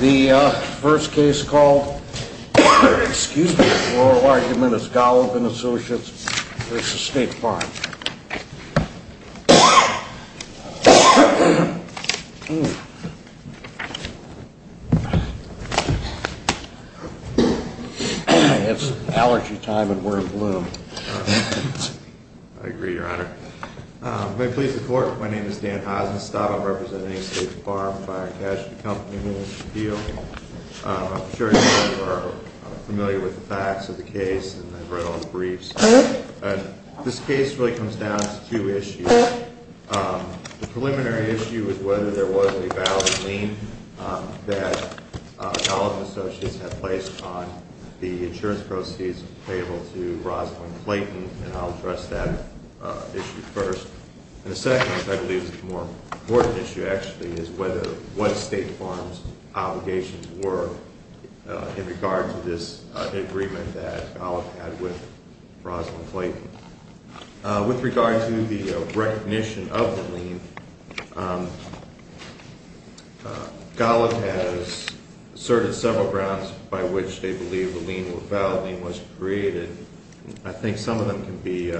The first case called, excuse me, oral argument is Golub & Associates v. State Farm. It's allergy time and we're in bloom. I agree, your honor. May it please the court, my name is Dan Heisenstab. I'm representing State Farm Fire & Casualty Company in this appeal. I'm sure you are familiar with the facts of the case and I've read all the briefs. This case really comes down to two issues. The preliminary issue is whether there was a valid lien that Golub & Associates had placed on the insurance proceeds payable to Rosalynn Clayton and I'll address that issue first. And the second, I believe, more important issue actually is what State Farm's obligations were in regard to this agreement that Golub had with Rosalynn Clayton. With regard to the recognition of the lien, Golub has asserted several grounds by which they believe the lien was created. I think some of them can be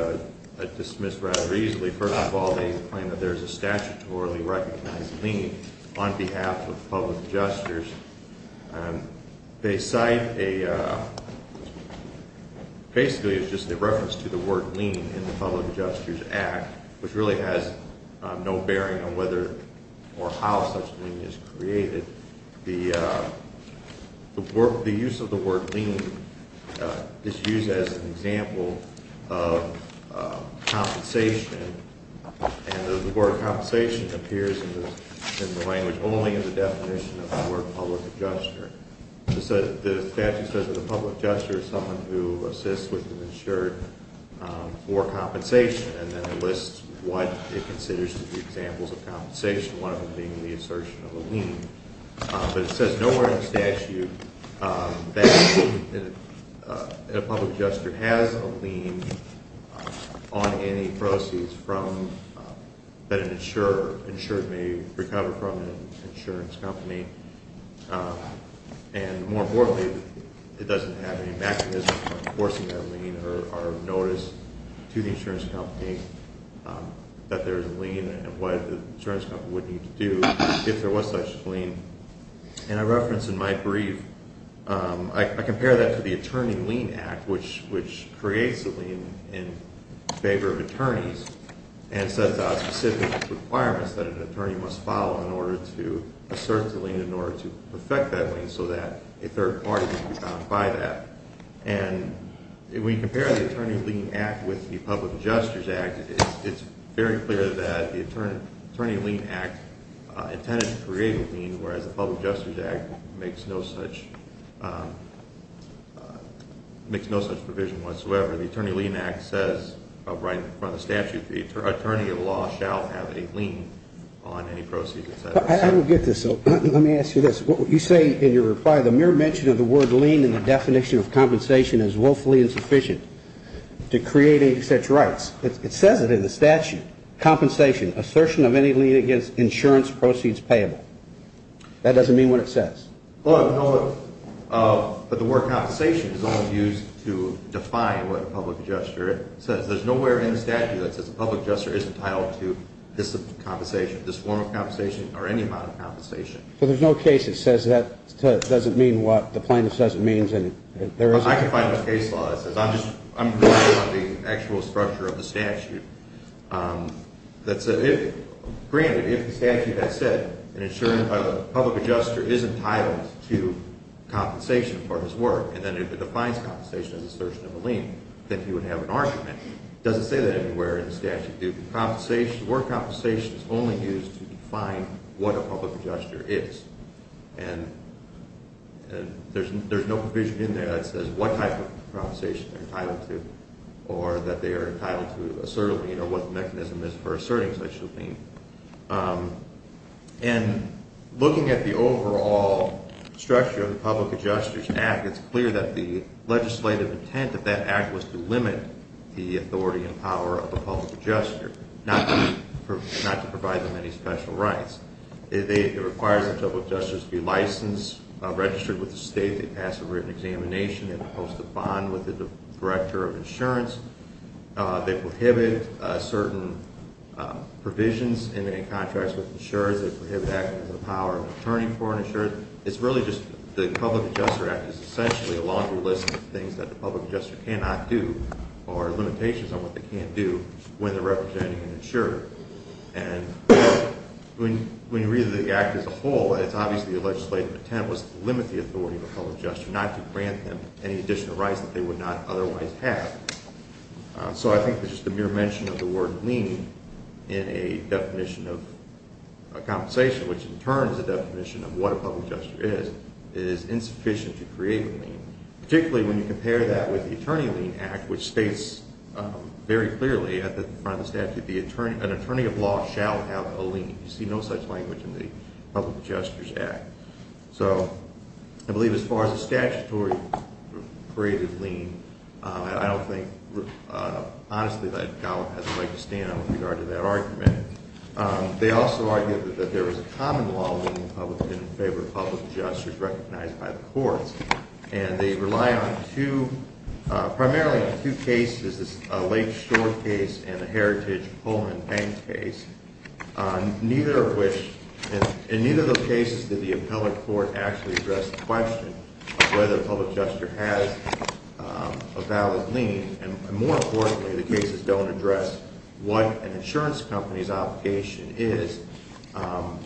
dismissed rather easily. First of all, they claim that there's a statutorily recognized lien on behalf of public adjusters. They cite a, basically it's just a reference to the word lien in the Public Adjusters Act, which really has no bearing on whether or how such a lien is created. The use of the word lien is used as an example of compensation and the word compensation appears in the language only in the definition of the word public adjuster. The statute says that the public adjuster is someone who assists with the insured for compensation and then lists what it considers to be examples of compensation, one of them being the assertion of a lien. But it says nowhere in the statute that a public adjuster has a lien on any proceeds that an insured may recover from an insurance company. And more importantly, it doesn't have any mechanism for enforcing that lien or notice to the insurance company that there's a lien and what the insurance company would need to do if there was such a lien. And I reference in my brief, I compare that to the Attorney Lien Act, which creates a lien in favor of attorneys and sets out specific requirements that an attorney must follow in order to assert the lien, in order to perfect that lien so that a third party can be bound by that. And when you compare the Attorney Lien Act with the Public Adjusters Act, it's very clear that the Attorney Lien Act intended to create a lien, whereas the Public Adjusters Act makes no such provision whatsoever. The Attorney Lien Act says, right in front of the statute, the attorney at law shall have a lien on any proceeds. I don't get this, so let me ask you this. You say in your reply, the mere mention of the word lien in the definition of compensation is woefully insufficient to create any such rights. It says it in the statute. Compensation, assertion of any lien against insurance proceeds payable. That doesn't mean what it says. But the word compensation is only used to define what a public adjuster says. There's nowhere in the statute that says a public adjuster is entitled to this form of compensation or any amount of compensation. So there's no case that says that doesn't mean what the plaintiff says it means? I can find a case law that says, I'm relying on the actual structure of the statute. Granted, if the statute had said an insurance public adjuster is entitled to compensation for his work, and then it defines compensation as assertion of a lien, then he would have an argument. It doesn't say that anywhere in the statute. The word compensation is only used to define what a public adjuster is. And there's no provision in there that says what type of compensation they're entitled to, or that they are entitled to assert a lien or what the mechanism is for asserting such a lien. And looking at the overall structure of the Public Adjusters Act, it's clear that the legislative intent of that act was to limit the authority and power of the public adjuster, not to provide them any special rights. It requires the public adjusters to be licensed, registered with the state, they pass a written examination, and they're supposed to bond with the director of insurance. They prohibit certain provisions in any contracts with insurers. They prohibit actions with the power of an attorney for an insurer. It's really just the Public Adjuster Act is essentially a laundry list of things that the public adjuster cannot do or limitations on what they can't do when they're representing an insurer. And when you read the act as a whole, it's obviously a legislative intent. It was to limit the authority of a public adjuster, not to grant them any additional rights that they would not otherwise have. So I think that just the mere mention of the word lien in a definition of compensation, which in turn is a definition of what a public adjuster is, is insufficient to create a lien. Particularly when you compare that with the Attorney Lien Act, which states very clearly at the front of the statute, an attorney of law shall have a lien. You see no such language in the Public Adjusters Act. So I believe as far as a statutory created lien, I don't think honestly that Gallup has a right to stand on with regard to that argument. They also argue that there is a common law in favor of public adjusters recognized by the courts, and they rely primarily on two cases, a Lake Shore case and a Heritage Poland Bank case. In neither of those cases did the appellate court actually address the question of whether a public adjuster has a valid lien. And more importantly, the cases don't address what an insurance company's obligation is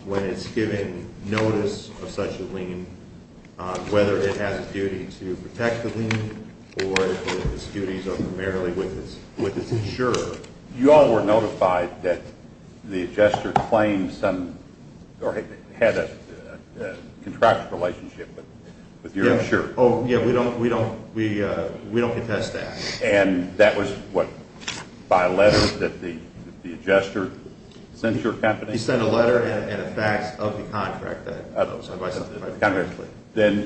when it's given notice of such a lien, whether it has a duty to protect the lien or if its duties are primarily with its insurer. You all were notified that the adjuster claimed some or had a contractual relationship with your insurer. Oh, yeah, we don't contest that. And that was what, by letter that the adjuster sent your company? He sent a letter and a fax of the contract.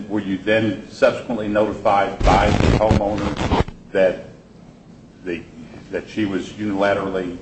Were you then subsequently notified by the homeowner that she was unilaterally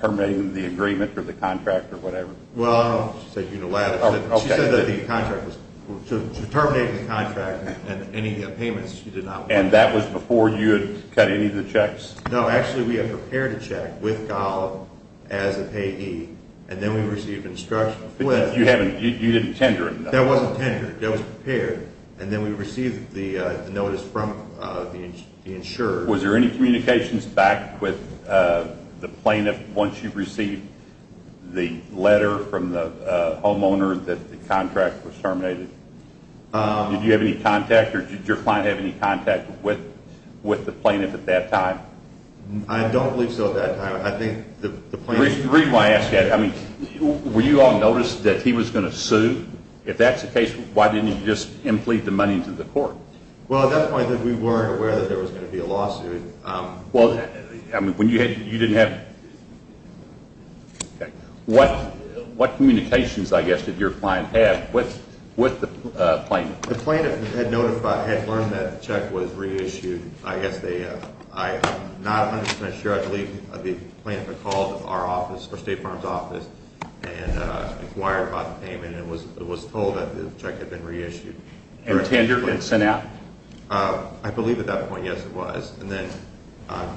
terminating the agreement for the contract or whatever? Well, she said unilaterally. She said that the contract was terminating the contract and any payments she did not want. And that was before you had cut any of the checks? No, actually we had prepared a check with Gallup as a payee, and then we received instructions. You didn't tender it? That wasn't tendered. That was prepared. And then we received the notice from the insurer. Was there any communications back with the plaintiff once you received the letter from the homeowner that the contract was terminated? Did you have any contact, or did your client have any contact with the plaintiff at that time? I don't believe so at that time. The reason why I ask that, were you all noticed that he was going to sue? If that's the case, why didn't you just implead the money to the court? Well, at that point we weren't aware that there was going to be a lawsuit. Well, when you didn't have any contact, what communications, I guess, did your client have with the plaintiff? The plaintiff had learned that the check was reissued. I'm not 100 percent sure. I believe the plaintiff had called our state farms office and inquired about the payment and was told that the check had been reissued. And tendered and sent out? I believe at that point, yes, it was. And then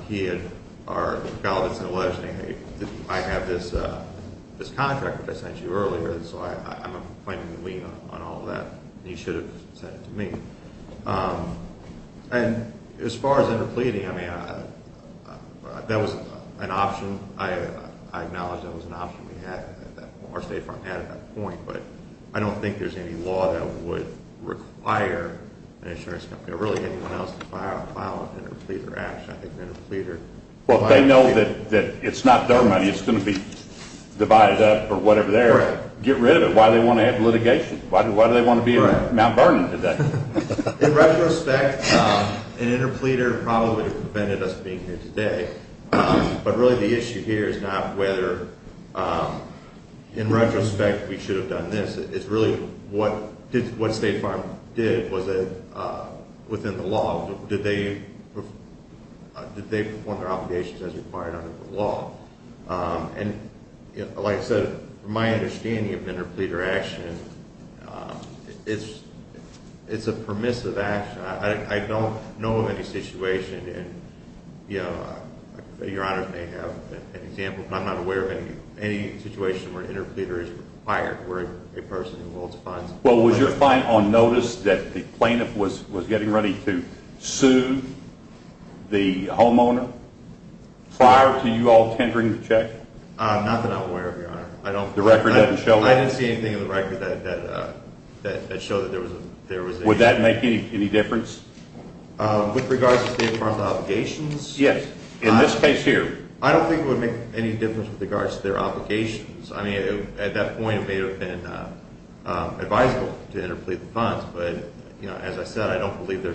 he had, or Mr. Gallagher sent a letter saying, hey, I have this contract that I sent you earlier, so I'm going to claim the lien on all of that. And he should have sent it to me. And as far as interpleading, I mean, that was an option. I acknowledge that was an option we had, that our state farm had at that point. But I don't think there's any law that would require an insurance company or really anyone else to file an interpleader action. Well, if they know that it's not their money, it's going to be divided up or whatever there, get rid of it. Why do they want to have litigation? Why do they want to be in Mount Vernon today? In retrospect, an interpleader probably prevented us being here today. But really the issue here is not whether in retrospect we should have done this. It's really what State Farm did. Was it within the law? Did they perform their obligations as required under the law? And like I said, from my understanding of interpleader action, it's a permissive action. I don't know of any situation, and your honors may have an example, but I'm not aware of any situation where an interpleader is required where a person involves fines. Well, was your fine on notice that the plaintiff was getting ready to sue the homeowner prior to you all tendering the check? Not that I'm aware of, your honor. The record doesn't show that? I didn't see anything in the record that showed that there was any. Would that make any difference? With regards to State Farm's obligations? Yes. In this case here? I don't think it would make any difference with regards to their obligations. I mean, at that point it may have been advisable to interplead the fines, but as I said, I don't believe there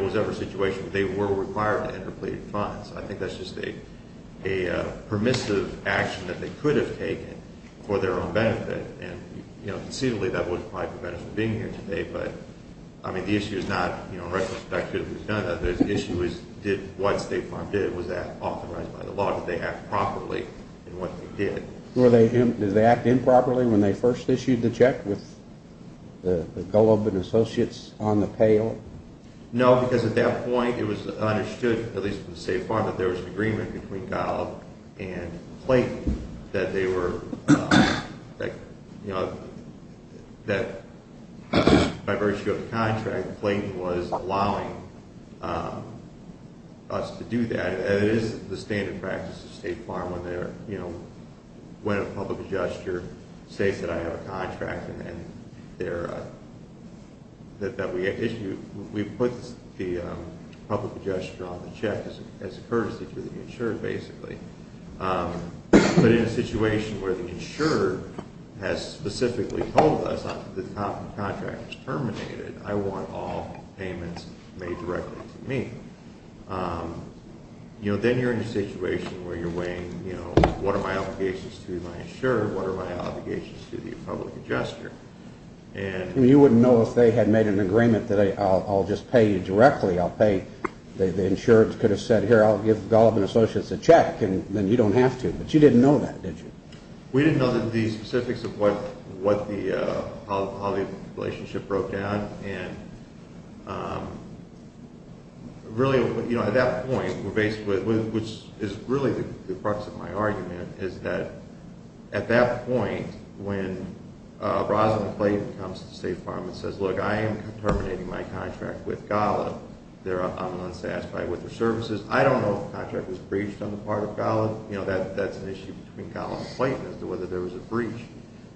was ever a situation where they were required to interplead fines. I think that's just a permissive action that they could have taken for their own benefit, and conceivably that would have probably prevented us from being here today. But the issue is not in retrospect whether we should have done that. The issue is did what State Farm did, was that authorized by the law? Did they act properly in what they did? Did they act improperly when they first issued the check with the Golob and associates on the pail? No, because at that point it was understood, at least with State Farm, that there was an agreement between Golob and Clayton that they were, you know, that by virtue of the contract, Clayton was allowing us to do that. And it is the standard practice of State Farm when they're, you know, when a public adjuster states that I have a contract and they're, that we issue, we put the public adjuster on the check as a courtesy to the insurer basically. But in a situation where the insurer has specifically told us that the contract is terminated, I want all payments made directly to me. You know, then you're in a situation where you're weighing, you know, what are my obligations to my insurer? What are my obligations to the public adjuster? You wouldn't know if they had made an agreement that I'll just pay you directly. I'll pay. The insurer could have said, here, I'll give Golob and associates a check, and then you don't have to. But you didn't know that, did you? We didn't know the specifics of what the, how the relationship broke down. And really, you know, at that point, we're basically, which is really the crux of my argument, is that at that point when Rosalyn Clayton comes to State Farm and says, Look, I am terminating my contract with Golob. I'm unsatisfied with their services. I don't know if the contract was breached on the part of Golob. You know, that's an issue between Golob and Clayton as to whether there was a breach.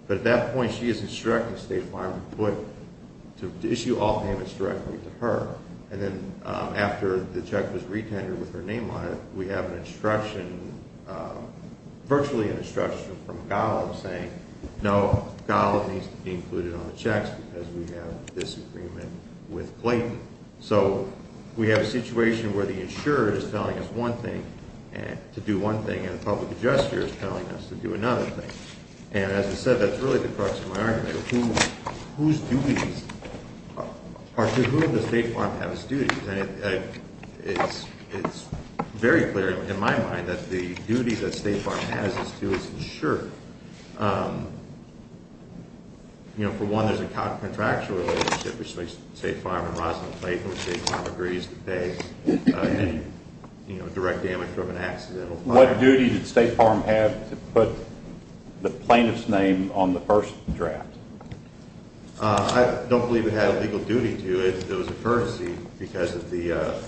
But at that point, she is instructing State Farm to issue all payments directly to her. And then after the check was re-tendered with her name on it, we have an instruction, virtually an instruction from Golob saying, No, Golob needs to be included on the checks because we have a disagreement with Clayton. So we have a situation where the insurer is telling us one thing to do one thing, and the public adjuster is telling us to do another thing. And as I said, that's really the crux of my argument. Whose duties, or to whom does State Farm have its duties? It's very clear in my mind that the duty that State Farm has is to its insurer. You know, for one, there's a contractual relationship between State Farm and Roslyn Clayton. State Farm agrees to pay any direct damage from an accidental fire. What duty did State Farm have to put the plaintiff's name on the first draft? I don't believe it had a legal duty to it. I believe it was a courtesy because of the,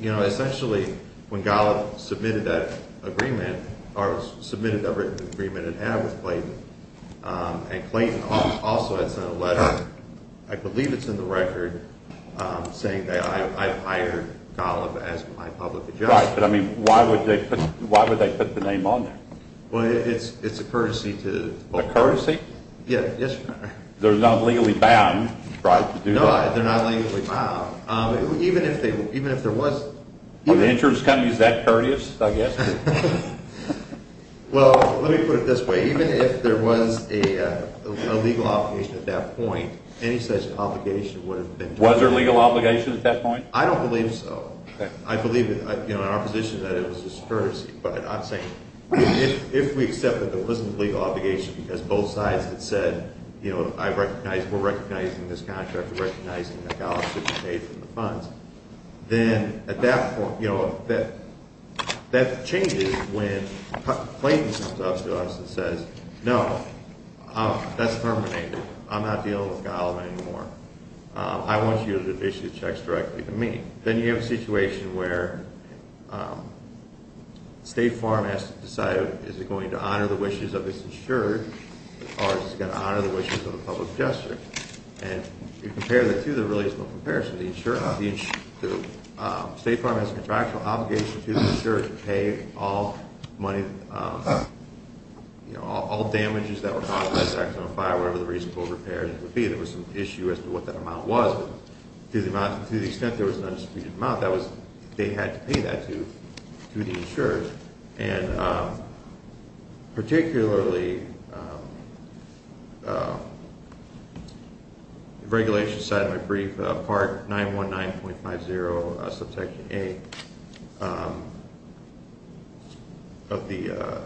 you know, essentially when Golob submitted that agreement, or submitted a written agreement in ad with Clayton, and Clayton also had sent a letter, I believe it's in the record, saying that I've hired Golob as my public adjuster. Right, but, I mean, why would they put the name on there? Well, it's a courtesy to both parties. A courtesy? They're not legally bound, right, to do that? No, they're not legally bound. Even if there was, even if... Are the insurers going to be that courteous, I guess? Well, let me put it this way. Even if there was a legal obligation at that point, any such obligation would have been... Was there a legal obligation at that point? I don't believe so. I believe, you know, in our position that it was just courtesy, but I'm saying if we accept that there wasn't a legal obligation because both sides had said, you know, I recognize, we're recognizing this contract, we're recognizing that Golob should be paid from the funds, then at that point, you know, that changes when Clayton comes up to us and says, no, that's terminated. I'm not dealing with Golob anymore. I want you to issue the checks directly to me. Then you have a situation where State Farm has to decide, is it going to honor the wishes of its insurer or is it going to honor the wishes of the public investor? And if you compare the two, there really is no comparison. The insurer, the State Farm has a contractual obligation to the insurer to pay all money, you know, all damages that were caused by the Jacksonville Fire, whatever the reasonable repairs would be. There was some issue as to what that amount was. To the extent there was an undisputed amount, that was, they had to pay that to the insurer. And particularly, the regulation side of my brief, Part 919.50, Subsection A, of the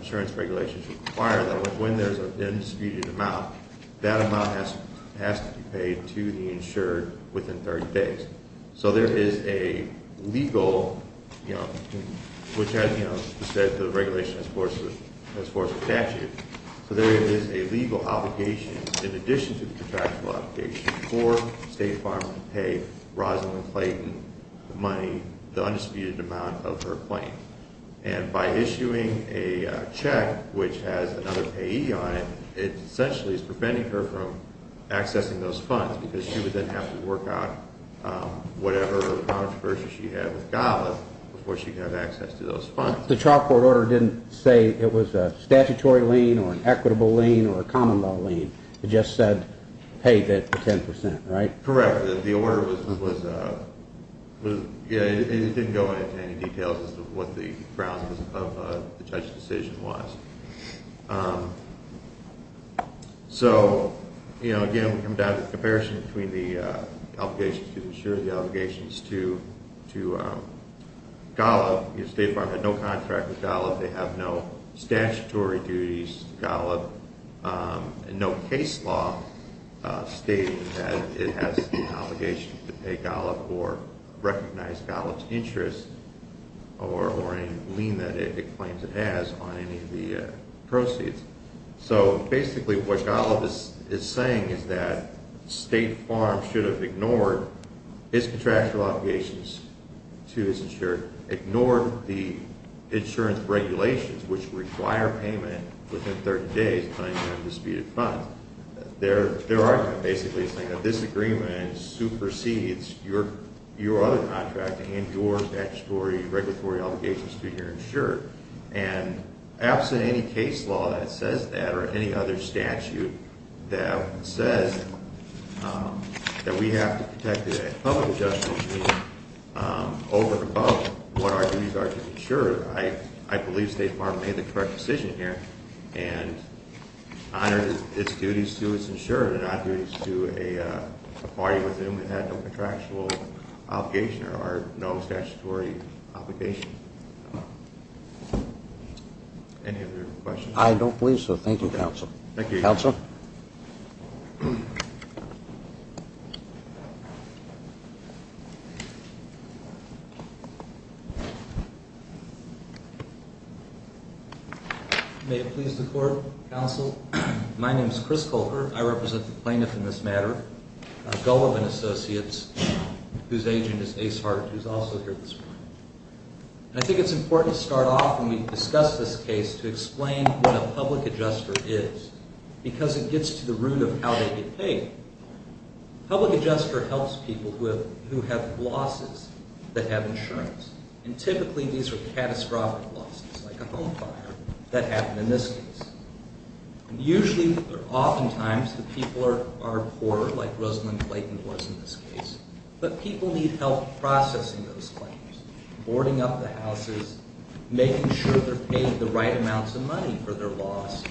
insurance regulations require that when there's an undisputed amount, that amount has to be paid to the insured within 30 days. So there is a legal, you know, which has, you know, said the regulation as far as the statute. So there is a legal obligation in addition to the contractual obligation for State Farm to pay Rosalynn Clayton the money, the undisputed amount of her claim. And by issuing a check which has another payee on it, it essentially is preventing her from accessing those funds because she would then have to work out whatever controversies she had with GABA before she could have access to those funds. The Charter Board order didn't say it was a statutory lien or an equitable lien or a common law lien. It just said pay that for 10%, right? Correct. The order was, you know, it didn't go into any details as to what the grounds of the judge's decision was. So, you know, again, we come down to the comparison between the obligations to the insurer, the obligations to Golub. You know, State Farm had no contract with Golub. They have no statutory duties to Golub and no case law stating that it has the obligation to pay Golub or recognize Golub's interest or any lien that it claims it has on any of the proceeds. So basically what Golub is saying is that State Farm should have ignored its contractual obligations to its insurer, ignored the insurance regulations which require payment within 30 days of the undisputed funds. Their argument basically is saying that this agreement supersedes your other contract and your statutory regulatory obligations to your insurer. And absent any case law that says that or any other statute that says that we have to protect the public adjustment over and above what our duties are to the insurer, I believe State Farm made the correct decision here and honored its duties to its insurer and not duties to a party within which it had no contractual obligation or no statutory obligation. Any other questions? I don't believe so. Thank you, counsel. Thank you. Counsel? May it please the Court, counsel? My name is Chris Colbert. I represent the plaintiff in this matter, Golub and Associates, whose agent is Ace Hart who is also here this morning. And I think it's important to start off when we discuss this case to explain what a public adjuster is because it gets to the root of how they get paid. Public adjuster helps people who have losses that have insurance. And typically these are catastrophic losses like a home fire that happened in this case. Usually or oftentimes the people are poorer, like Rosalynn Clayton was in this case, but people need help processing those claims, boarding up the houses, making sure they're paid the right amounts of money for their loss,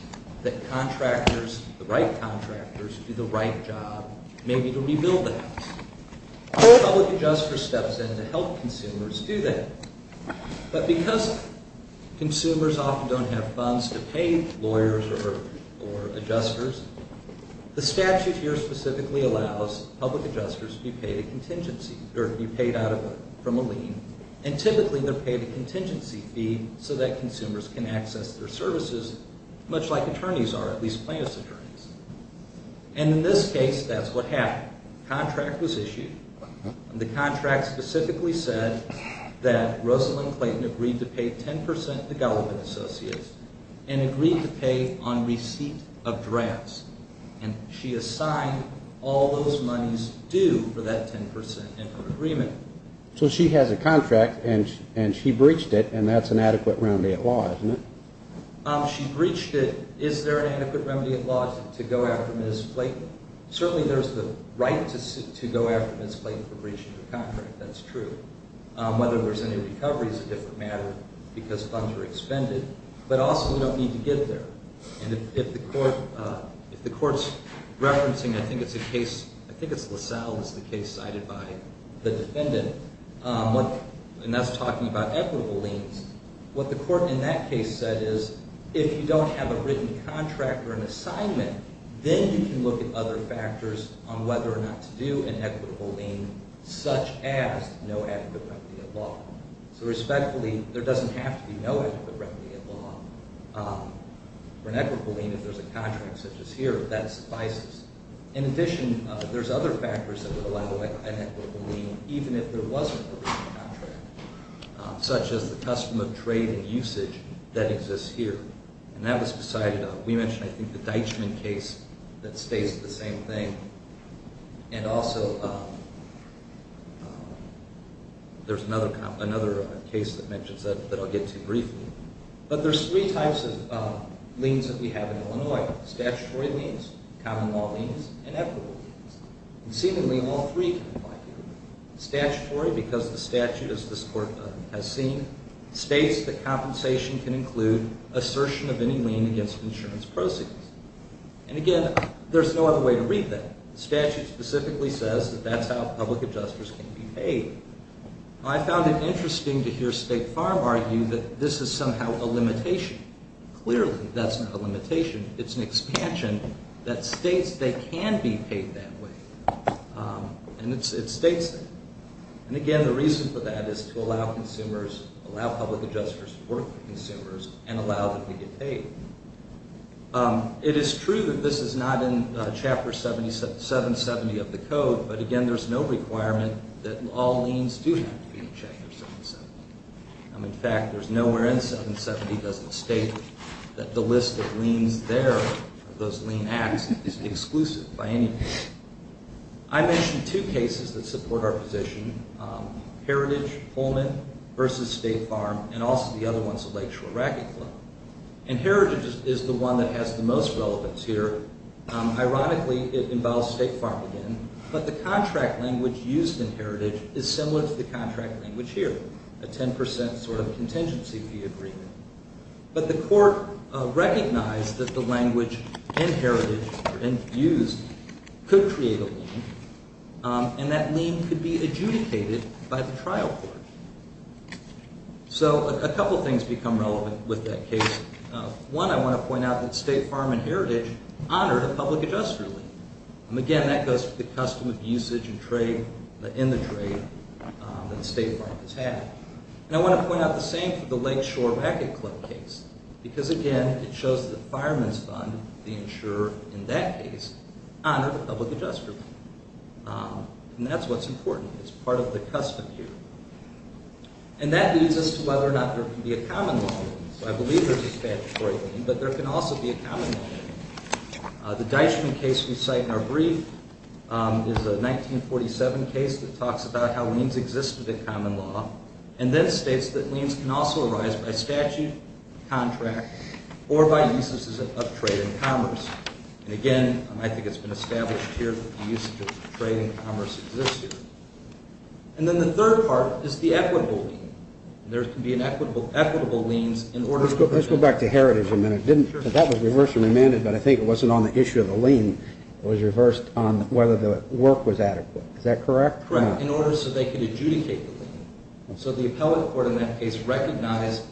that contractors, the right contractors, do the right job maybe to rebuild the house. A public adjuster steps in to help consumers do that. But because consumers often don't have funds to pay lawyers or adjusters, the statute here specifically allows public adjusters to be paid a contingency, or be paid from a lien, and typically they're paid a contingency fee so that consumers can access their services much like attorneys are, at least plaintiff's attorneys. And in this case that's what happened. A contract was issued. The contract specifically said that Rosalynn Clayton agreed to pay 10 percent to Golub and Associates and agreed to pay on receipt of drafts. And she assigned all those monies due for that 10 percent and her agreement. So she has a contract and she breached it, and that's an adequate remedy at law, isn't it? She breached it. Is there an adequate remedy at law to go after Ms. Clayton? Certainly there's the right to go after Ms. Clayton for breaching her contract. That's true. Whether there's any recovery is a different matter because funds were expended. But also we don't need to get there. And if the court's referencing, I think it's a case, I think it's LaSalle, it's the case cited by the defendant, and that's talking about equitable liens, what the court in that case said is if you don't have a written contract or an assignment, then you can look at other factors on whether or not to do an equitable lien, such as no adequate remedy at law. So respectfully, there doesn't have to be no adequate remedy at law. For an equitable lien, if there's a contract such as here, that suffices. In addition, there's other factors that would allow an equitable lien, even if there wasn't a written contract, such as the custom of trade and usage that exists here. And that was decided on. We mentioned, I think, the Deitchman case that states the same thing. And also there's another case that mentions that that I'll get to briefly. But there's three types of liens that we have in Illinois, statutory liens, common law liens, and equitable liens. And seemingly all three can apply here. Statutory, because the statute, as this court has seen, states that compensation can include assertion of any lien against insurance proceeds. And, again, there's no other way to read that. The statute specifically says that that's how public adjusters can be paid. I found it interesting to hear State Farm argue that this is somehow a limitation. Clearly, that's not a limitation. It's an expansion that states they can be paid that way. And it states that. And, again, the reason for that is to allow consumers, allow public adjusters to work with consumers and allow them to get paid. It is true that this is not in Chapter 770 of the code. But, again, there's no requirement that all liens do have to be in Chapter 770. In fact, there's nowhere in 770 that doesn't state that the list of liens there, those lien acts, is exclusive by any means. I mentioned two cases that support our position, Heritage, Pullman versus State Farm, and also the other ones, the Lakeshore Racquet Club. And Heritage is the one that has the most relevance here. Ironically, it involves State Farm again. But the contract language used in Heritage is similar to the contract language here, a 10 percent sort of contingency fee agreement. But the court recognized that the language in Heritage, or in used, could create a lien. And that lien could be adjudicated by the trial court. So a couple things become relevant with that case. One, I want to point out that State Farm and Heritage honored a public adjuster lien. And, again, that goes for the custom of usage and trade in the trade that State Farm has had. And I want to point out the same for the Lakeshore Racquet Club case. Because, again, it shows that the fireman's fund, the insurer in that case, honored a public adjuster lien. And that's what's important. It's part of the custom here. And that leads us to whether or not there can be a common law lien. So I believe there's a statutory lien, but there can also be a common law lien. The Deichman case we cite in our brief is a 1947 case that talks about how liens existed in common law. And then states that liens can also arise by statute, contract, or by uses of trade and commerce. And, again, I think it's been established here that the usage of trade and commerce existed. And then the third part is the equitable lien. There can be equitable liens in order to prevent- Let's go back to Heritage for a minute. That was reversed and remanded, but I think it wasn't on the issue of the lien. It was reversed on whether the work was adequate. Is that correct? Correct, in order so they could adjudicate the lien. So the appellate court in that case recognized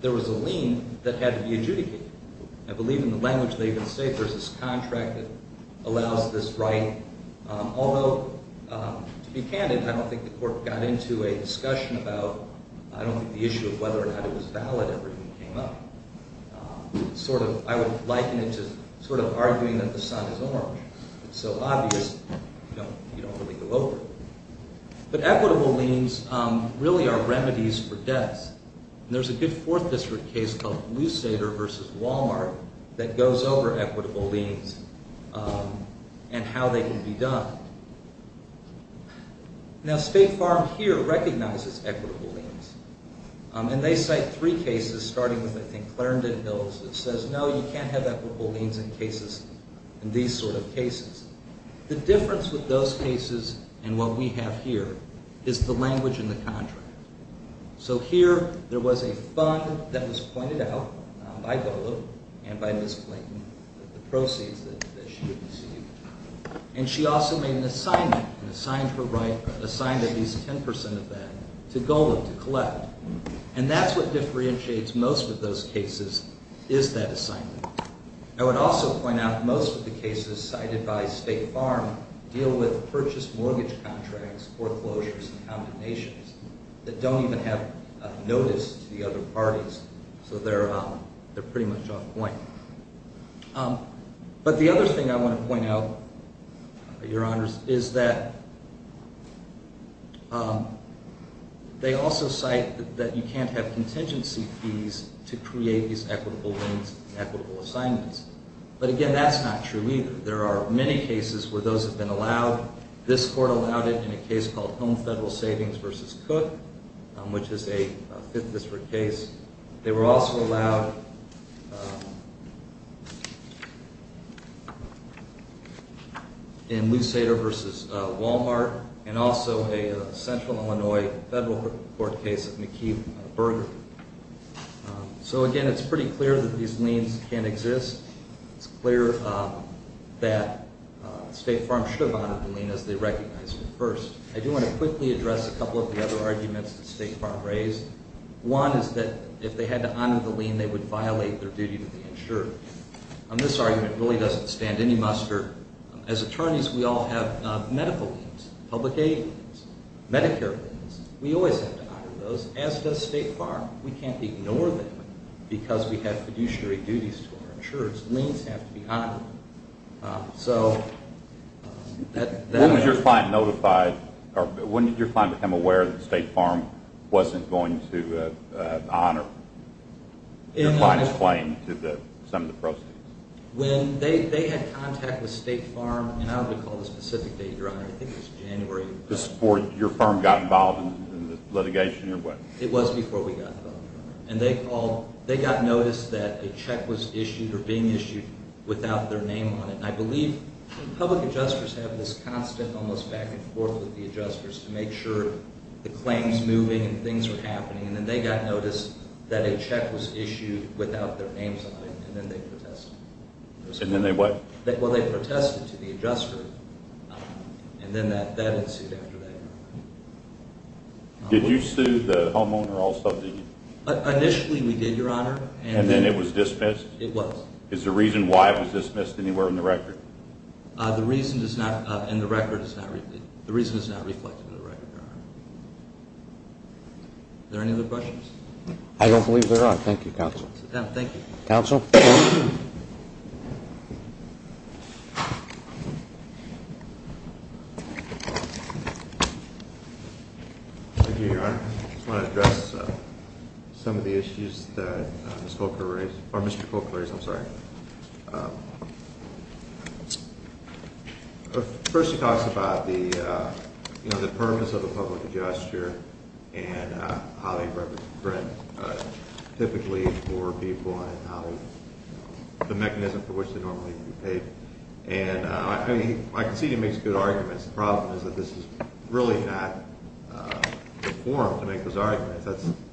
there was a lien that had to be adjudicated. I believe in the language they even say there's this contract that allows this right. Although, to be candid, I don't think the court got into a discussion about- I don't think the issue of whether or not it was valid ever even came up. I would liken it to sort of arguing that the sun is orange. It's so obvious you don't really go over it. But equitable liens really are remedies for debts. And there's a good Fourth District case called Lusader v. Walmart that goes over equitable liens and how they can be done. Now State Farm here recognizes equitable liens. And they cite three cases, starting with, I think, Clarendon Hills, that says, no, you can't have equitable liens in these sort of cases. The difference with those cases and what we have here is the language in the contract. So here there was a fund that was pointed out by GOLA and by Ms. Clayton, the proceeds that she received. And she also made an assignment and assigned her right, assigned at least 10% of that, to GOLA to collect. And that's what differentiates most of those cases is that assignment. I would also point out most of the cases cited by State Farm deal with purchased mortgage contracts, foreclosures, and condemnations that don't even have notice to the other parties. So they're pretty much off point. But the other thing I want to point out, Your Honors, is that they also cite that you can't have contingency fees to create these equitable liens and equitable assignments. But, again, that's not true either. There are many cases where those have been allowed. This court allowed it in a case called Home Federal Savings v. Cook, which is a Fifth District case. They were also allowed in Lusato v. Walmart and also a Central Illinois Federal Court case of McKeith Burger. So, again, it's pretty clear that these liens can't exist. It's clear that State Farm should have honored the lien as they recognized it first. I do want to quickly address a couple of the other arguments that State Farm raised. One is that if they had to honor the lien, they would violate their duty to the insurer. This argument really doesn't stand any muster. As attorneys, we all have medical liens, public aid liens, Medicare liens. We always have to honor those, as does State Farm. We can't ignore them because we have fiduciary duties to our insurers. Liens have to be honored. When did your client become aware that State Farm wasn't going to honor your client's claim to some of the proceeds? When they had contact with State Farm, and I don't recall the specific date, Your Honor. I think it was January. Before your firm got involved in the litigation? It was before we got involved. They got notice that a check was issued or being issued without their name on it. I believe public adjusters have this constant almost back and forth with the adjusters to make sure the claim is moving and things are happening. Then they got notice that a check was issued without their names on it, and then they protested. And then they what? Well, they protested to the adjuster, and then that ensued after that. Did you sue the homeowner also? Initially we did, Your Honor. And then it was dismissed? It was. Is there a reason why it was dismissed anywhere in the record? The reason is not reflected in the record, Your Honor. Are there any other questions? I don't believe there are. Thank you, Counsel. Sit down. Thank you. Counsel? Thank you, Your Honor. I just want to address some of the issues that Mr. Kolker raised. Or Mr. Kolker raised, I'm sorry. First he talks about the purpose of a public adjuster and how they represent typically poor people and the mechanism for which they normally get paid. And I can see he makes good arguments. The problem is that this is really not the forum to make those arguments.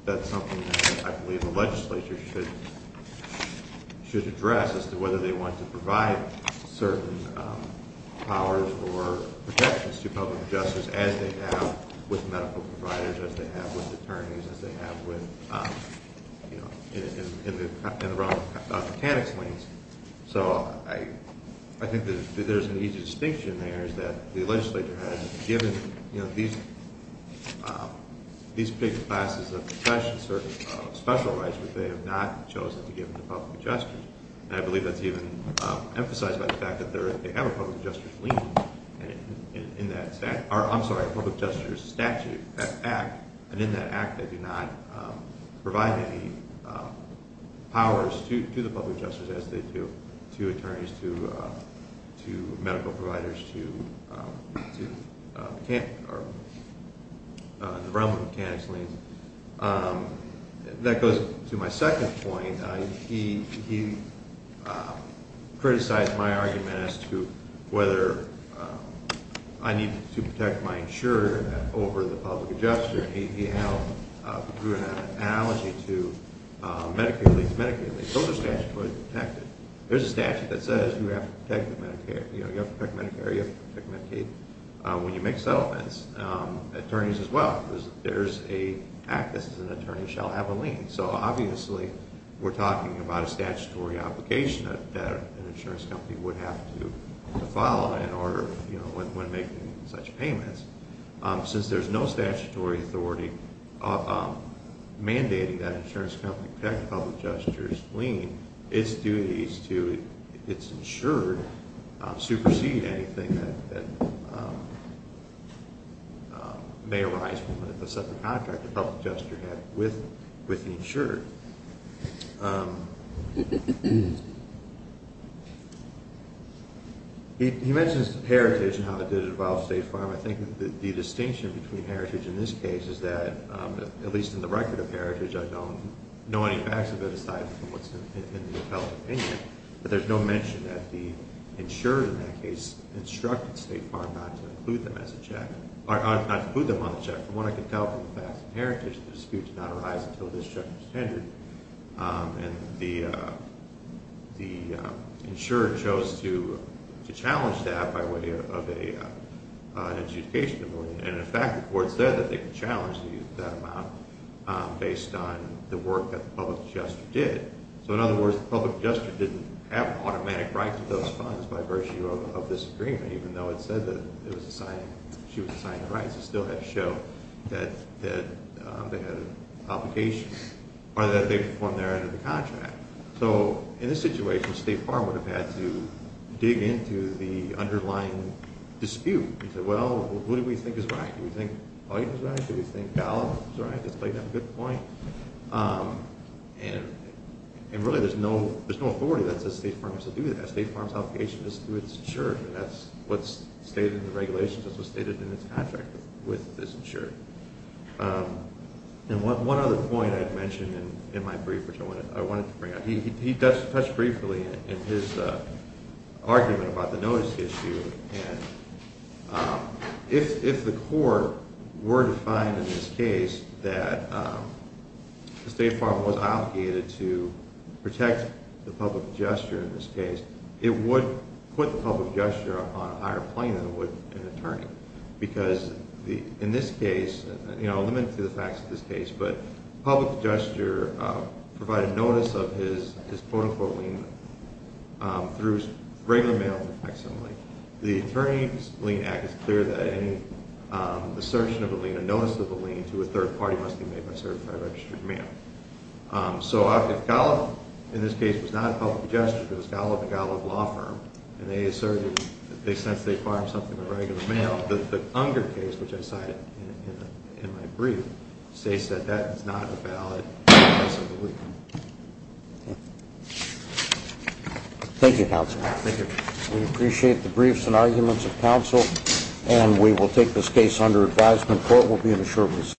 That's something that I believe the legislature should address as to whether they want to provide certain powers or protections to public adjusters as they have with medical providers, as they have with attorneys, as they have with, you know, in the realm of mechanics lanes. So I think that there's an easy distinction there is that the legislature has given, you know, these big classes of special rights, but they have not chosen to give them to public adjusters. And I believe that's even emphasized by the fact that they have a public adjuster's lien in that statute, or I'm sorry, a public adjuster's statute act. And in that act they do not provide any powers to the public adjusters as they do to attorneys, to medical providers, to the realm of mechanics lanes. That goes to my second point. He criticized my argument as to whether I need to protect my insurer over the public adjuster. He drew an analogy to Medicare leave, Medicaid leave. Those are statutes where you protect it. There's a statute that says you have to protect Medicare, you have to protect Medicaid when you make settlements, attorneys as well. What he's talking about is there's an act that says an attorney shall have a lien. So obviously we're talking about a statutory obligation that an insurance company would have to follow in order, you know, when making such payments. Since there's no statutory authority mandating that an insurance company protect a public adjuster's lien, it's duties to its insured supersede anything that may arise from a separate contract the public adjuster had with the insured. He mentions heritage and how it did involve State Farm. I think the distinction between heritage in this case is that, at least in the record of heritage, I don't know any facts of it aside from what's in the appellate opinion. But there's no mention that the insurer in that case instructed State Farm not to include them on the check. From what I could tell from the facts of heritage, the dispute did not arise until this check was tendered. And the insurer chose to challenge that by way of an adjudication of a lien. And in fact, the court said that they could challenge that amount based on the work that the public adjuster did. So in other words, the public adjuster didn't have an automatic right to those funds by virtue of this agreement, even though it said that she was assigned the rights. It still had to show that they had an obligation or that they performed their end of the contract. So in this situation, State Farm would have had to dig into the underlying dispute and say, well, who do we think is right? Do we think Hoyt is right? Do we think Gallup is right? Does Clayton have a good point? And really, there's no authority that says State Farm has to do that. State Farm's obligation is to its insurer. And that's what's stated in the regulations. That's what's stated in its contract with this insurer. And one other point I had mentioned in my brief, which I wanted to bring up, he touched briefly in his argument about the notice issue. And if the court were to find in this case that State Farm was obligated to protect the public adjuster in this case, it would put the public adjuster on a higher plane than it would an attorney. Because in this case, you know, limited to the facts of this case, but the public adjuster provided notice of his quote-unquote lien through regular mail and fax only. The Attorney's Lien Act is clear that any assertion of a lien, a notice of a lien to a third party must be made by certified registered mail. So if Gallup, in this case, was not a public adjuster, but it was Gallup and Gallup Law Firm, and they asserted that they sensed they farmed something in regular mail, the Unger case, which I cited in my brief, states that that is not a valid notice of a lien. Thank you, Counsel. Thank you. We appreciate the briefs and arguments of counsel, and we will take this case under advisement. Court will be in a short recess.